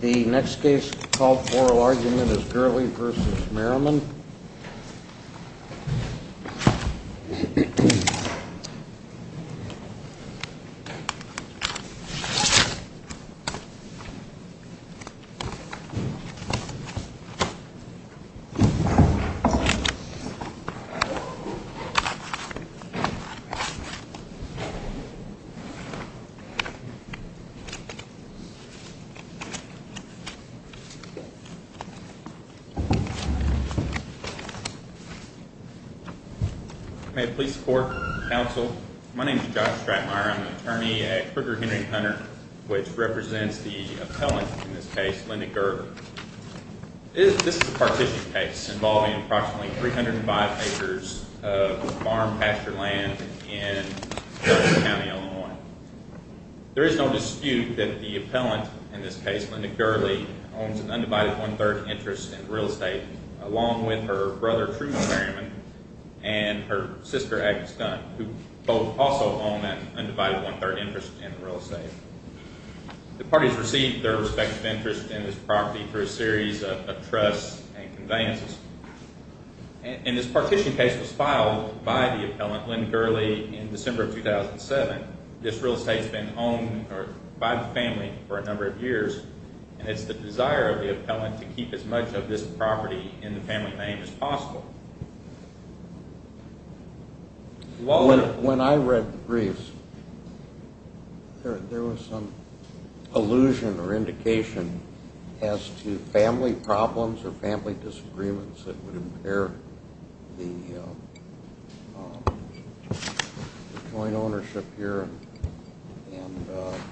The next case called for oral argument is Gurley v. Merriman. May it please the court, counsel. My name is Josh Stratmire. I'm an attorney at Kruger Henry & Hunter, which represents the appellant in this case, Linda Gurley. This is a partition case involving approximately 305 acres of farm pasture land in Shelby County, Illinois. There is no dispute that the appellant in this case, Linda Gurley, owns an undivided one-third interest in real estate, along with her brother Truman Merriman and her sister Agnes Dunn, who both also own that undivided one-third interest in real estate. The parties received their respective interest in this property through a series of trusts and conveyances. And this partition case was filed by the appellant, Linda Gurley, in December of 2007. This real estate has been owned by the family for a number of years, and it's the desire of the appellant to keep as much of this property in the family name as possible. When I read the briefs, there was some allusion or indication as to family problems or family disagreements that would impair the joint ownership here, and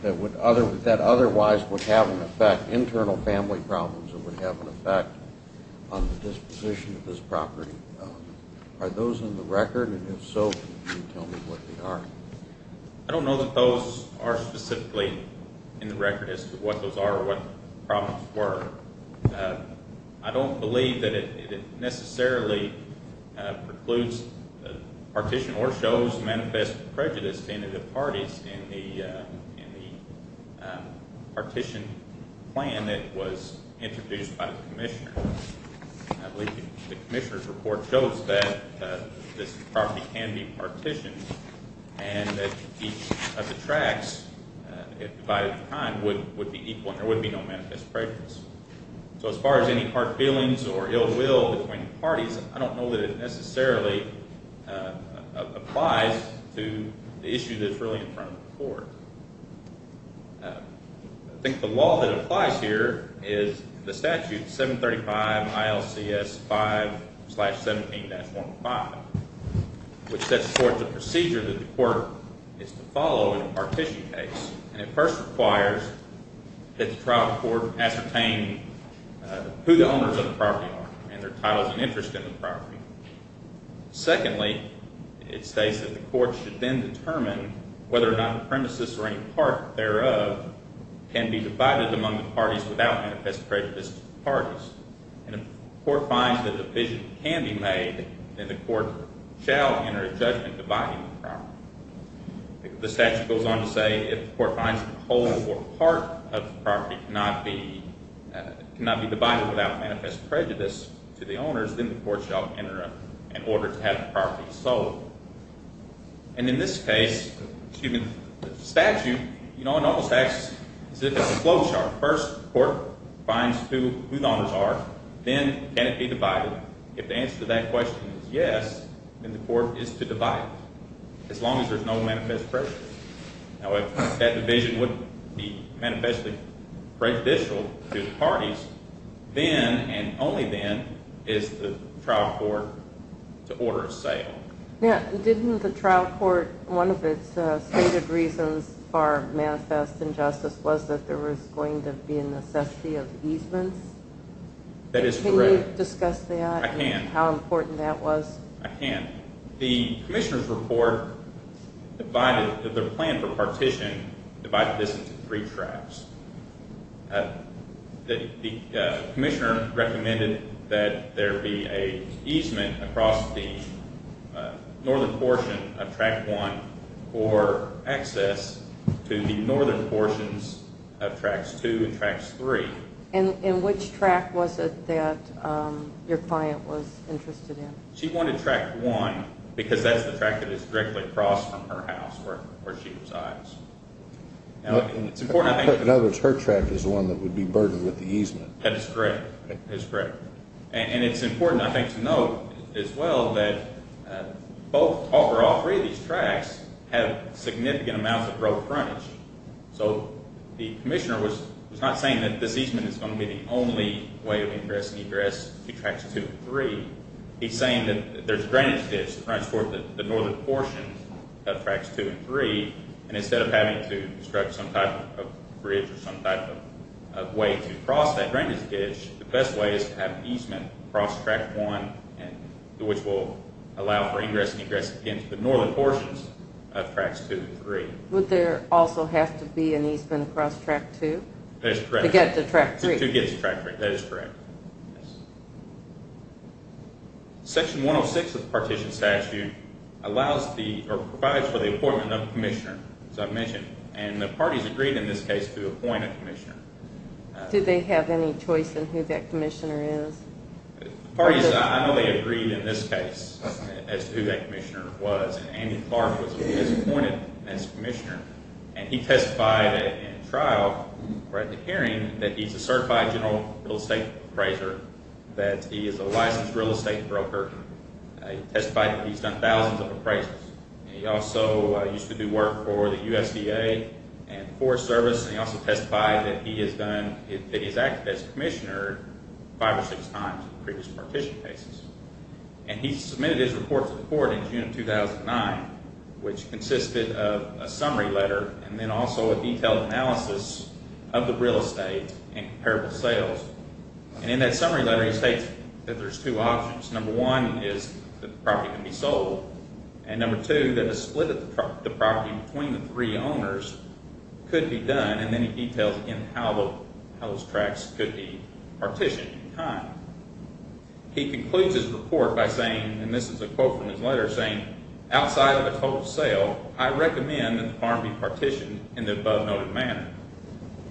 that otherwise would have an effect, internal family problems that would have an effect on the disposition of this property. Are those in the record? And if so, can you tell me what they are? I don't know that those are specifically in the record as to what those are or what the problems were. I don't believe that it necessarily precludes partition or shows manifest prejudice to any of the parties in the partition plan that was introduced by the commissioner. I believe the commissioner's report shows that this property can be partitioned and that each of the tracts, if divided at the time, would be equal and there would be no manifest prejudice. So as far as any hard feelings or ill will between the parties, I don't know that it necessarily applies to the issue that's really in front of the court. I think the law that applies here is the statute 735 ILCS 5-17-15, which sets forth the procedure that the court is to follow in a partition case. And it first requires that the trial court ascertain who the owners of the property are and their titles and interest in the property. Secondly, it states that the court should then determine whether or not the premises or any part thereof can be divided among the parties without manifest prejudice to the parties. And if the court finds that a division can be made, then the court shall enter a judgment dividing the property. The statute goes on to say if the court finds that a whole or part of the property cannot be divided without manifest prejudice to the owners, then the court shall enter an order to have the property sold. And in this case, excuse me, the statute, you know, it almost acts as if it's a flow chart. First, the court finds who the owners are, then can it be divided. If the answer to that question is yes, then the court is to divide. As long as there's no manifest prejudice. Now, if that division would be manifestly prejudicial to the parties, then and only then is the trial court to order a sale. Didn't the trial court, one of its stated reasons for manifest injustice was that there was going to be a necessity of easements? That is correct. Can you discuss that and how important that was? I can. The commissioner's report divided the plan for partition, divided this into three tracks. The commissioner recommended that there be an easement across the northern portion of Track 1 for access to the northern portions of Tracks 2 and Tracks 3. And which track was it that your client was interested in? She wanted Track 1 because that's the track that is directly across from her house where she resides. In other words, her track is the one that would be burdened with the easement. That is correct. And it's important, I think, to note as well that over all three of these tracks have significant amounts of road frontage. So the commissioner was not saying that this easement is going to be the only way of ingress and egress to Tracks 2 and 3. He's saying that there's drainage ditches that transport the northern portions of Tracks 2 and 3, and instead of having to construct some type of bridge or some type of way to cross that drainage ditch, the best way is to have an easement across Track 1, which will allow for ingress and egress into the northern portions of Tracks 2 and 3. Would there also have to be an easement across Track 2? That is correct. To get to Track 3. To get to Track 3. That is correct. Section 106 of the Partition Statute provides for the appointment of a commissioner, as I mentioned, and the parties agreed in this case to appoint a commissioner. Did they have any choice in who that commissioner is? The parties idly agreed in this case as to who that commissioner was, and Andy Clark was appointed as commissioner, and he testified in trial or at the hearing that he's a certified general real estate appraiser, that he is a licensed real estate broker. He testified that he's done thousands of appraisals, and he also used to do work for the USDA and Forest Service, and he also testified that he has acted as commissioner five or six times in previous partition cases. And he submitted his report to the court in June of 2009, which consisted of a summary letter, and then also a detailed analysis of the real estate and comparable sales. And in that summary letter, he states that there's two options. Number one is that the property can be sold, and number two, that a split of the property between the three owners could be done, and then he details again how those tracks could be partitioned in time. He concludes his report by saying, and this is a quote from his letter, saying, outside of a total sale, I recommend that the farm be partitioned in the above-noted manner.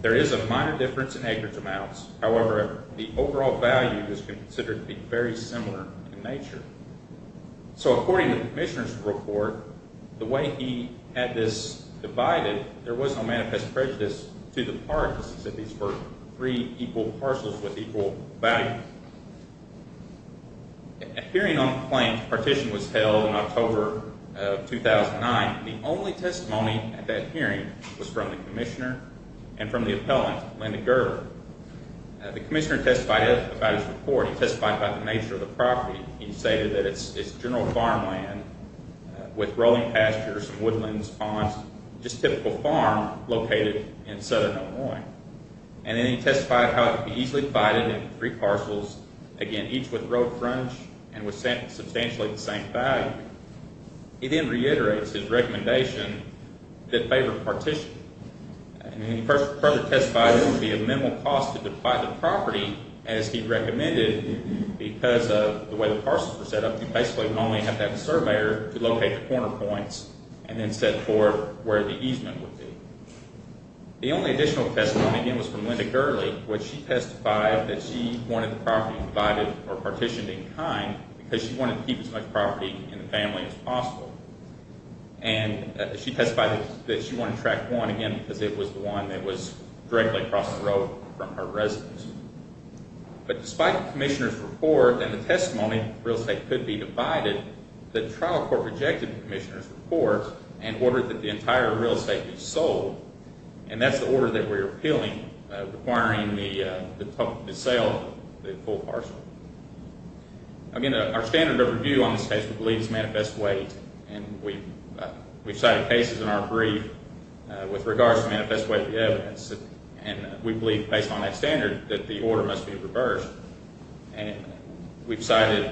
There is a minor difference in acreage amounts. However, the overall value is considered to be very similar in nature. So according to the commissioner's report, the way he had this divided, there was no manifest prejudice to the parties that these were three equal parcels with equal value. A hearing on the claims partition was held in October of 2009. The only testimony at that hearing was from the commissioner and from the appellant, Linda Gerber. The commissioner testified about his report. He testified about the nature of the property. He stated that it's general farmland with rolling pastures, woodlands, ponds, just typical farm located in southern Illinois. And then he testified how it could be easily divided into three parcels, again, each with road fronts and with substantially the same value. He then reiterates his recommendation that favor partition. And he further testified it would be a minimal cost to divide the property as he recommended because of the way the parcels were set up. You basically would normally have to have a surveyor to locate the corner points and then set forth where the easement would be. The only additional testimony, again, was from Linda Gerber, which she testified that she wanted the property divided or partitioned in kind because she wanted to keep as much property in the family as possible. And she testified that she wanted tract one, again, because it was the one that was directly across the road from her residence. But despite the commissioner's report and the testimony, real estate could be divided, the trial court rejected the commissioner's report and ordered that the entire real estate be sold. And that's the order that we're appealing, requiring the sale of the full parcel. Again, our standard of review on this case, we believe, is manifest weight. And we've cited cases in our brief with regards to manifest weight of the evidence. And we believe, based on that standard, that the order must be reversed. And we've cited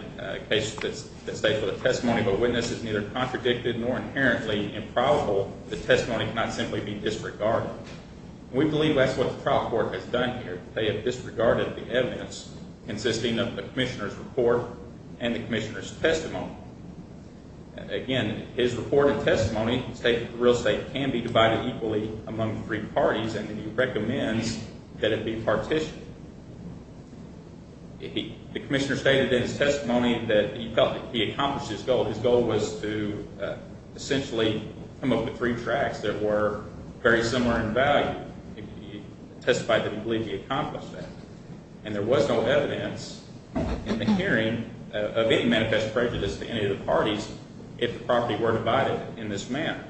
cases that state that the testimony of a witness is neither contradicted nor inherently improbable. The testimony cannot simply be disregarded. We believe that's what the trial court has done here. They have disregarded the evidence consisting of the commissioner's report and the commissioner's testimony. Again, his report and testimony state that real estate can be divided equally among three parties, and he recommends that it be partitioned. The commissioner stated in his testimony that he felt that he accomplished his goal. His goal was to essentially come up with three tracts that were very similar in value. He testified that he believed he accomplished that. And there was no evidence in the hearing of any manifest prejudice to any of the parties if the property were divided in this manner.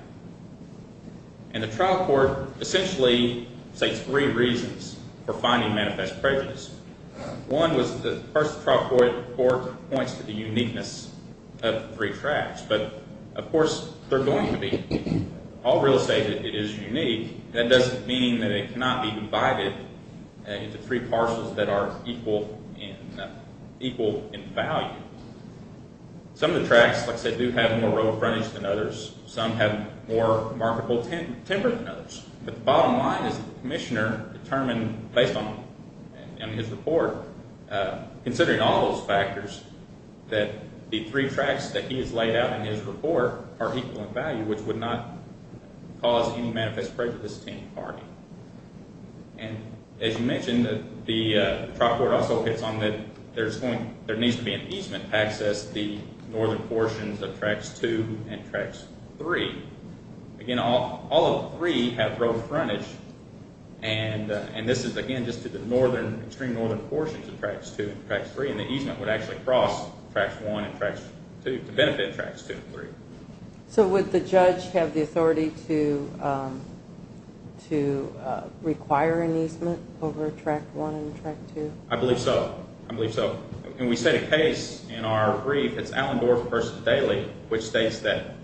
And the trial court essentially states three reasons for finding manifest prejudice. One was the first trial court report points to the uniqueness of the three tracts. But, of course, they're going to be. All real estate is unique. That doesn't mean that it cannot be divided into three parcels that are equal in value. Some of the tracts, like I said, do have more real estate than others. Some have more marketable timber than others. But the bottom line is the commissioner determined based on his report, considering all those factors, that the three tracts that he has laid out in his report are equal in value, which would not cause any manifest prejudice to any party. And, as you mentioned, the trial court also hits on that there needs to be an easement to access the northern portions of Tracts 2 and Tracts 3. Again, all of three have road frontage. And this is, again, just to the extreme northern portions of Tracts 2 and Tracts 3. And the easement would actually cross Tracts 1 and Tracts 2 to benefit Tracts 2 and 3. So would the judge have the authority to require an easement over Tract 1 and Tract 2? I believe so. I believe so. And we set a case in our brief. It's Allen Dorff versus Daly, which states that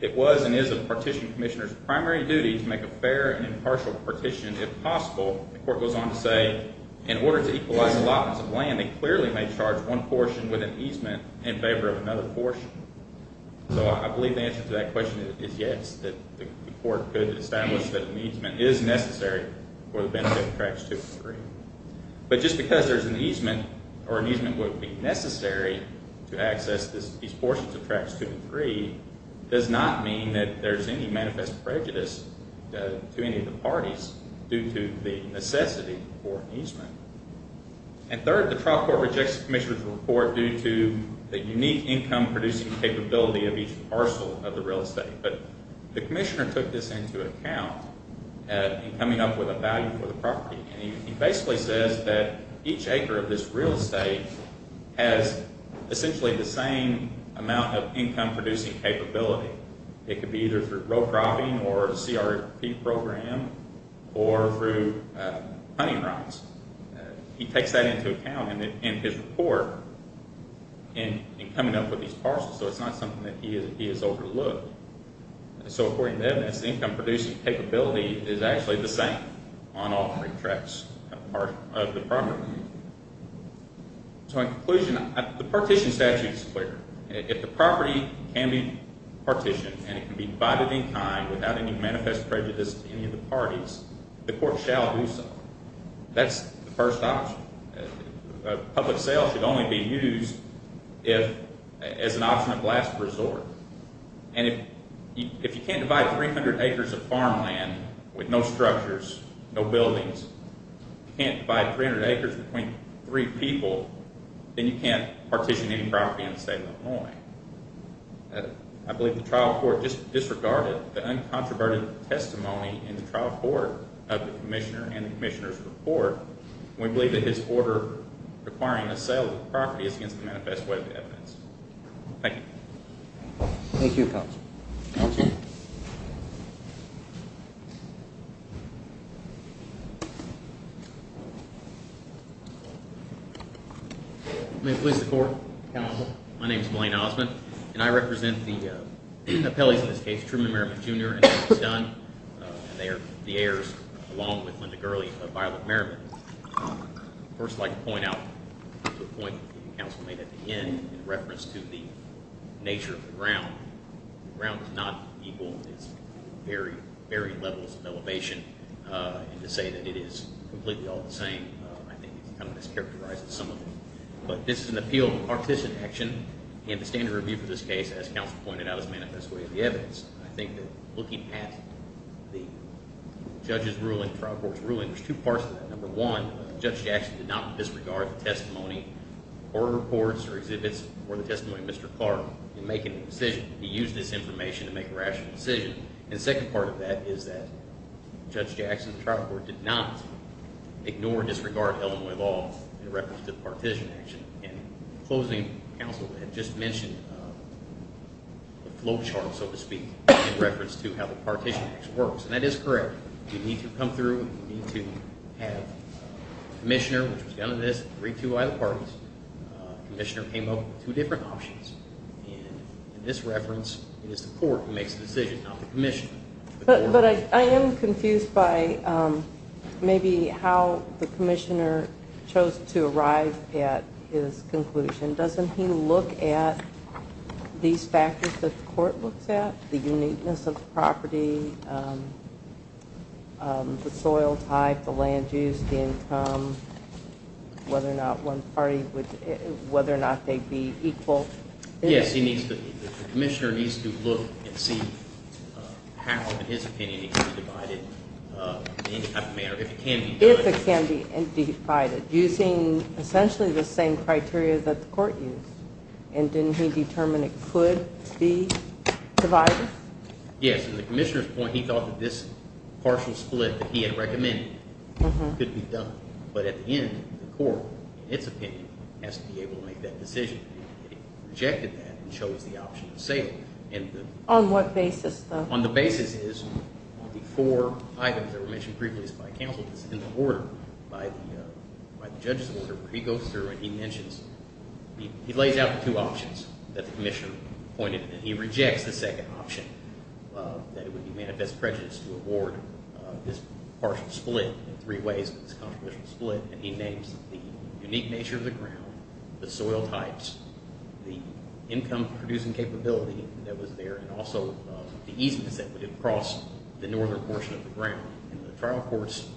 it was and is a partition commissioner's primary duty to make a fair and impartial partition if possible. The court goes on to say, in order to equalize allotments of land, they clearly may charge one portion with an easement in favor of another portion. So I believe the answer to that question is yes, that the court could establish that an easement is necessary for the benefit of Tracts 2 and 3. But just because there's an easement or an easement would be necessary to access these portions of Tracts 2 and 3 does not mean that there's any manifest prejudice to any of the parties due to the necessity for an easement. And third, the trial court rejects the commissioner's report due to the unique income-producing capability of each parcel of the real estate. But the commissioner took this into account in coming up with a value for the property. And he basically says that each acre of this real estate has essentially the same amount of income-producing capability. It could be either through row cropping or a CRP program or through hunting rides. He takes that into account in his report in coming up with these parcels, so it's not something that he has overlooked. So according to evidence, the income-producing capability is actually the same on all three tracts of the property. So in conclusion, the partition statute is clear. If the property can be partitioned and it can be divided in kind without any manifest prejudice to any of the parties, the court shall do so. That's the first option. Public sale should only be used as an option of last resort. And if you can't divide 300 acres of farmland with no structures, no buildings, if you can't divide 300 acres between three people, then you can't partition any property in the state of Illinois. I believe the trial court disregarded the uncontroverted testimony in the trial court of the commissioner and the commissioner's report. We believe that his order requiring the sale of the property is against the manifest way of evidence. Thank you, counsel. May it please the court, counsel. My name is Blaine Osmond, and I represent the appellees in this case, Truman Merriman, Jr. and Douglas Dunn. And they are the heirs, along with Linda Gurley, of Violet Merriman. First, I'd like to point out the point that the counsel made at the end in reference to the nature of the ground. The ground is not equal. It's very, very levels of elevation. And to say that it is completely all the same, I think it kind of mischaracterizes some of it. But this is an appeal of partition action, and the standard review for this case, as counsel pointed out, is manifest way of the evidence. I think that looking at the judge's ruling, trial court's ruling, there's two parts to that. Number one, Judge Jackson did not disregard the testimony or reports or exhibits or the testimony of Mr. Clark in making a decision. He used this information to make a rational decision. And the second part of that is that Judge Jackson, the trial court, did not ignore or disregard Illinois law in reference to the partition action. And the closing counsel had just mentioned the flow chart, so to speak, in reference to how the partition action works. And that is correct. You need to come through and you need to have a commissioner, which was done in this, three two-item parties. Commissioner came up with two different options. And in this reference, it is the court who makes the decision, not the commissioner. But I am confused by maybe how the commissioner chose to arrive at his conclusion. Doesn't he look at these factors that the court looks at, the uniqueness of the property, the soil type, the land use, the income, whether or not one party would, whether or not they'd be equal? Yes, he needs to, the commissioner needs to look and see how, in his opinion, it can be divided in any type of manner, if it can be. If it can be divided, using essentially the same criteria that the court used. And didn't he determine it could be divided? Yes, and the commissioner's point, he thought that this partial split that he had recommended could be done. But at the end, the court, in its opinion, has to be able to make that decision. It rejected that and chose the option of sale. On what basis, though? On the basis is, on the four items that were mentioned previously by counsel that's in the order by the judge's order, he goes through and he mentions, he lays out the two options that the commissioner pointed. And he rejects the second option, that it would be manifest prejudice to award this partial split in three ways, this controversial split. And he names the unique nature of the ground, the soil types, the income-producing capability that was there, and also the easements that would have crossed the northern portion of the ground. And the trial court's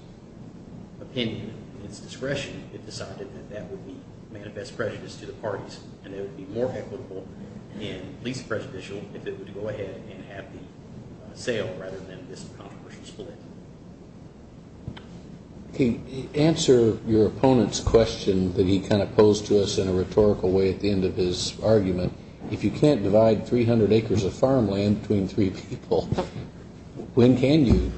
opinion, in its discretion, it decided that that would be manifest prejudice to the parties. And it would be more equitable and least prejudicial if it would go ahead and have the sale rather than this controversial split. Answer your opponent's question that he kind of posed to us in a rhetorical way at the end of his argument. If you can't divide 300 acres of farmland between three people, when can you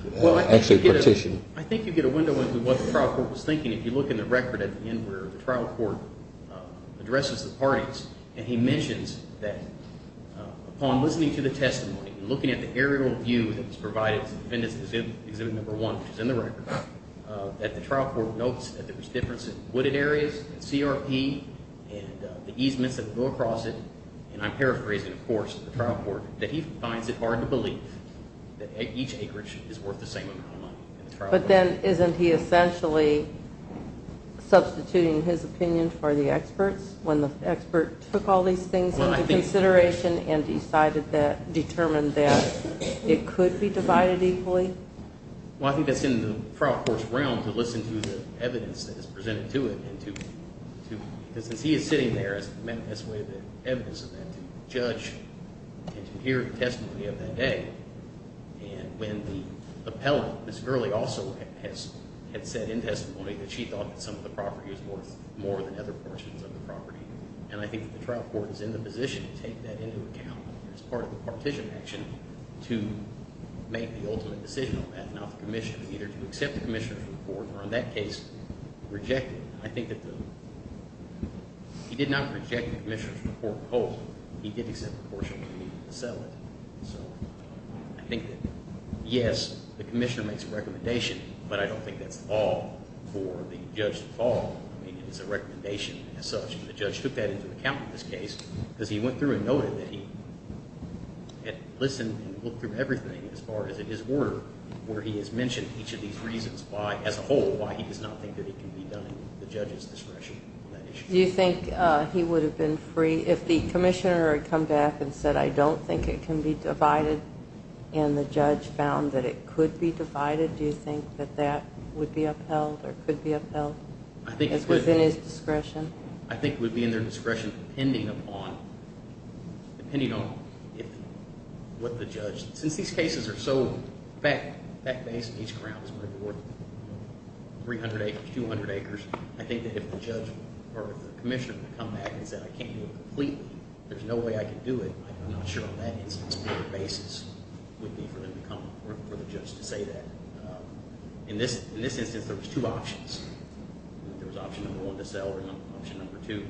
actually partition? Well, I think you get a window into what the trial court was thinking if you look in the record at the end where the trial court addresses the parties. And he mentions that upon listening to the testimony and looking at the aerial view that was provided to defendants in exhibit number one, which is in the record, that the trial court notes that there was difference in wooded areas, CRP, and the easements that would go across it. And I'm paraphrasing, of course, to the trial court that he finds it hard to believe that each acreage is worth the same amount of money. But then isn't he essentially substituting his opinion for the expert's when the expert took all these things into consideration and decided that – determined that it could be divided equally? Well, I think that's in the trial court's realm to listen to the evidence that is presented to it and to – because since he is sitting there, he has the manifest way of evidence of that to judge and to hear the testimony of that day. And when the appellant, Ms. Gurley, also had said in testimony that she thought that some of the property was worth more than other portions of the property. And I think that the trial court is in the position to take that into account as part of the partition action to make the ultimate decision on that and have the commissioner either to accept the commissioner's report or, in that case, reject it. And I think that the – he did not reject the commissioner's report whole. He did accept a portion of the settlement. So I think that, yes, the commissioner makes a recommendation, but I don't think that's at all for the judge at all. I mean, it is a recommendation as such. And the judge took that into account in this case because he went through and noted that he had listened and looked through everything as far as it is worth, where he has mentioned each of these reasons why – as a whole, why he does not think that it can be done in the judge's discretion on that issue. Do you think he would have been free – if the commissioner had come back and said, I don't think it can be divided, and the judge found that it could be divided, do you think that that would be upheld or could be upheld? I think it would – If it was in his discretion. I think it would be in their discretion depending upon – depending on what the judge – since these cases are so fact-based, each ground is probably worth 300 acres, 200 acres, I think that if the judge or the commissioner had come back and said, I can't do it completely, there's no way I can do it, I'm not sure on that instance what the basis would be for them to come – for the judge to say that. In this instance, there was two options. There was option number one to sell or option number two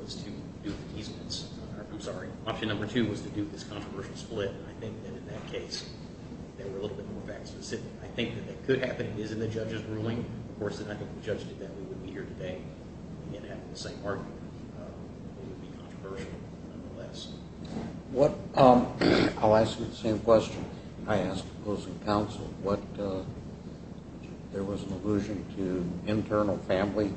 was to do the – I'm sorry. Option number two was to do this controversial split, and I think that in that case, they were a little bit more fact-specific. I think that that could happen. It is in the judge's ruling. Of course, if the judge did that, we wouldn't be here today and have the same argument. It would be controversial nonetheless. I'll ask you the same question I asked opposing counsel. What – there was an allusion to internal family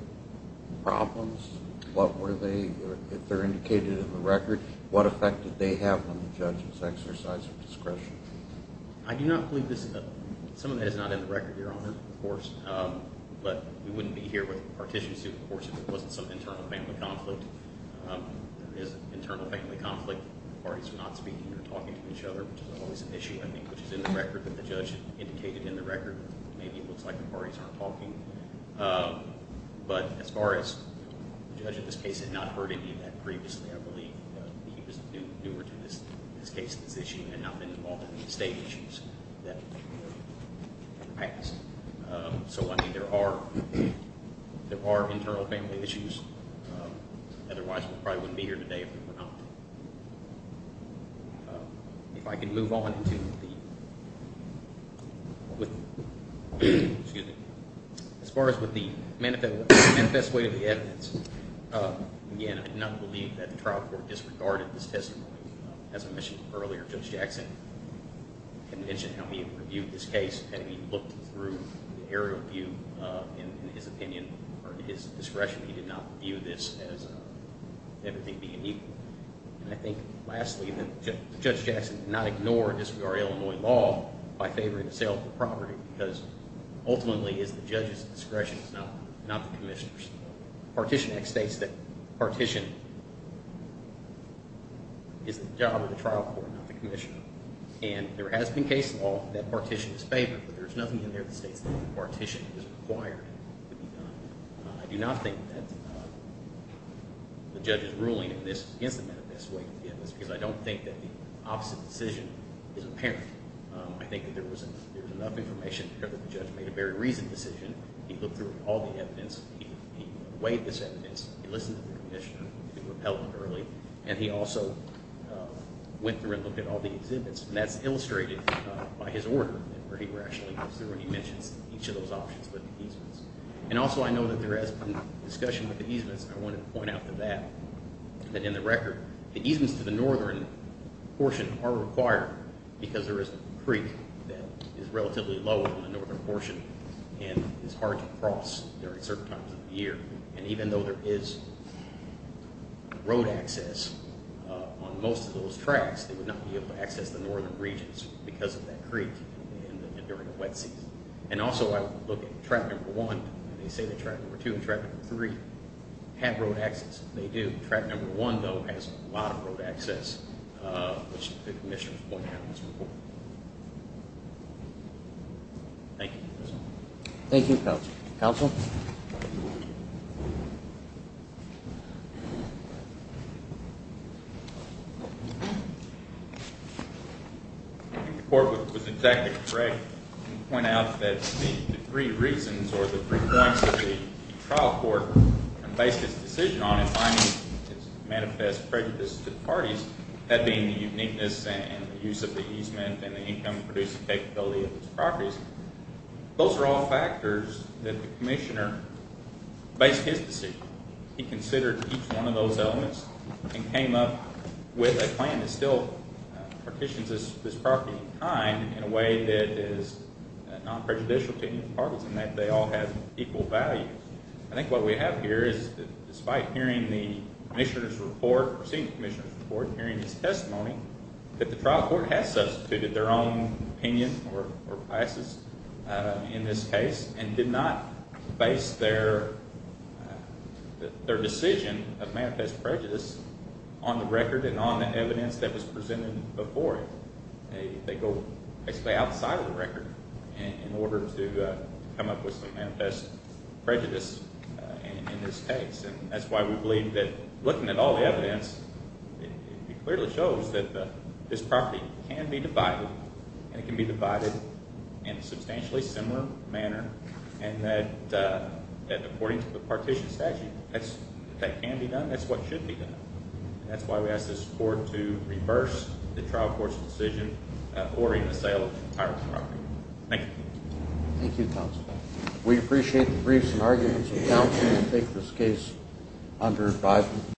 problems. What were they – if they're indicated in the record, what effect did they have on the judge's exercise of discretion? I do not believe this – some of that is not in the record, Your Honor, of course, but we wouldn't be here with a partition suit, of course, if there wasn't some internal family conflict. There is internal family conflict. Parties are not speaking or talking to each other, which is always an issue, I think, which is in the record that the judge indicated in the record. Maybe it looks like the parties aren't talking. But as far as – the judge in this case had not heard any of that previously, I believe. He was newer to this case, this issue, and had not been involved in the state issues that – in the past. So, I mean, there are internal family issues. Otherwise, we probably wouldn't be here today if we were not. If I could move on into the – with – excuse me. As far as with the manifest way of the evidence, again, I do not believe that the trial court disregarded this testimony. As I mentioned earlier, Judge Jackson can mention how he reviewed this case and he looked through the area of view in his opinion or his discretion. He did not view this as everything being equal. And I think, lastly, that Judge Jackson did not ignore the disregard of Illinois law by favoring the sale of the property because ultimately it's the judge's discretion, it's not the commissioner's. The Partition Act states that partition is the job of the trial court, not the commissioner. And there has been case law that partition is favored, but there's nothing in there that states that no partition is required to be done. I do not think that the judge's ruling in this – against the manifest way of the evidence because I don't think that the opposite decision is apparent. I think that there was enough information there that the judge made a very reasoned decision. He looked through all the evidence. He weighed this evidence. He listened to the commissioner. He repelled it early. And he also went through and looked at all the exhibits, and that's illustrated by his order where he rationally goes through and he mentions each of those options with the easements. And also I know that there has been discussion with the easements, and I wanted to point out to that, that in the record, the easements to the northern portion are required because there is a creek that is relatively low in the northern portion and is hard to cross during certain times of the year. And even though there is road access on most of those tracks, they would not be able to access the northern regions because of that creek during the wet season. And also I would look at track number one, and they say that track number two and track number three have road access. They do. Track number one, though, has a lot of road access, which the commissioner has pointed out in this report. Thank you. Thank you, Counsel. Counsel? The report was exactly correct. You point out that the three reasons or the three points of the trial court and based its decision on it finding its manifest prejudice to the parties, that being the uniqueness and the use of the easement and the income-producing capability of its properties, those are all factors that the commissioner based his decision. He considered each one of those elements and came up with a plan that still partitions this property in kind in a way that is non-prejudicial to any of the parties and that they all have equal value. I think what we have here is that despite hearing the commissioner's report or seeing the commissioner's report and hearing his testimony, that the trial court has substituted their own opinion or classes in this case and did not base their decision of manifest prejudice on the record and on the evidence that was presented before it. They go basically outside of the record in order to come up with some manifest prejudice in this case. That's why we believe that looking at all the evidence, it clearly shows that this property can be divided and it can be divided in a substantially similar manner and that according to the partition statute, if that can be done, that's what should be done. That's why we ask this court to reverse the trial court's decision ordering the sale of the entire property. Thank you. Thank you, counsel. We appreciate the briefs and arguments of counsel to take this case under advisement.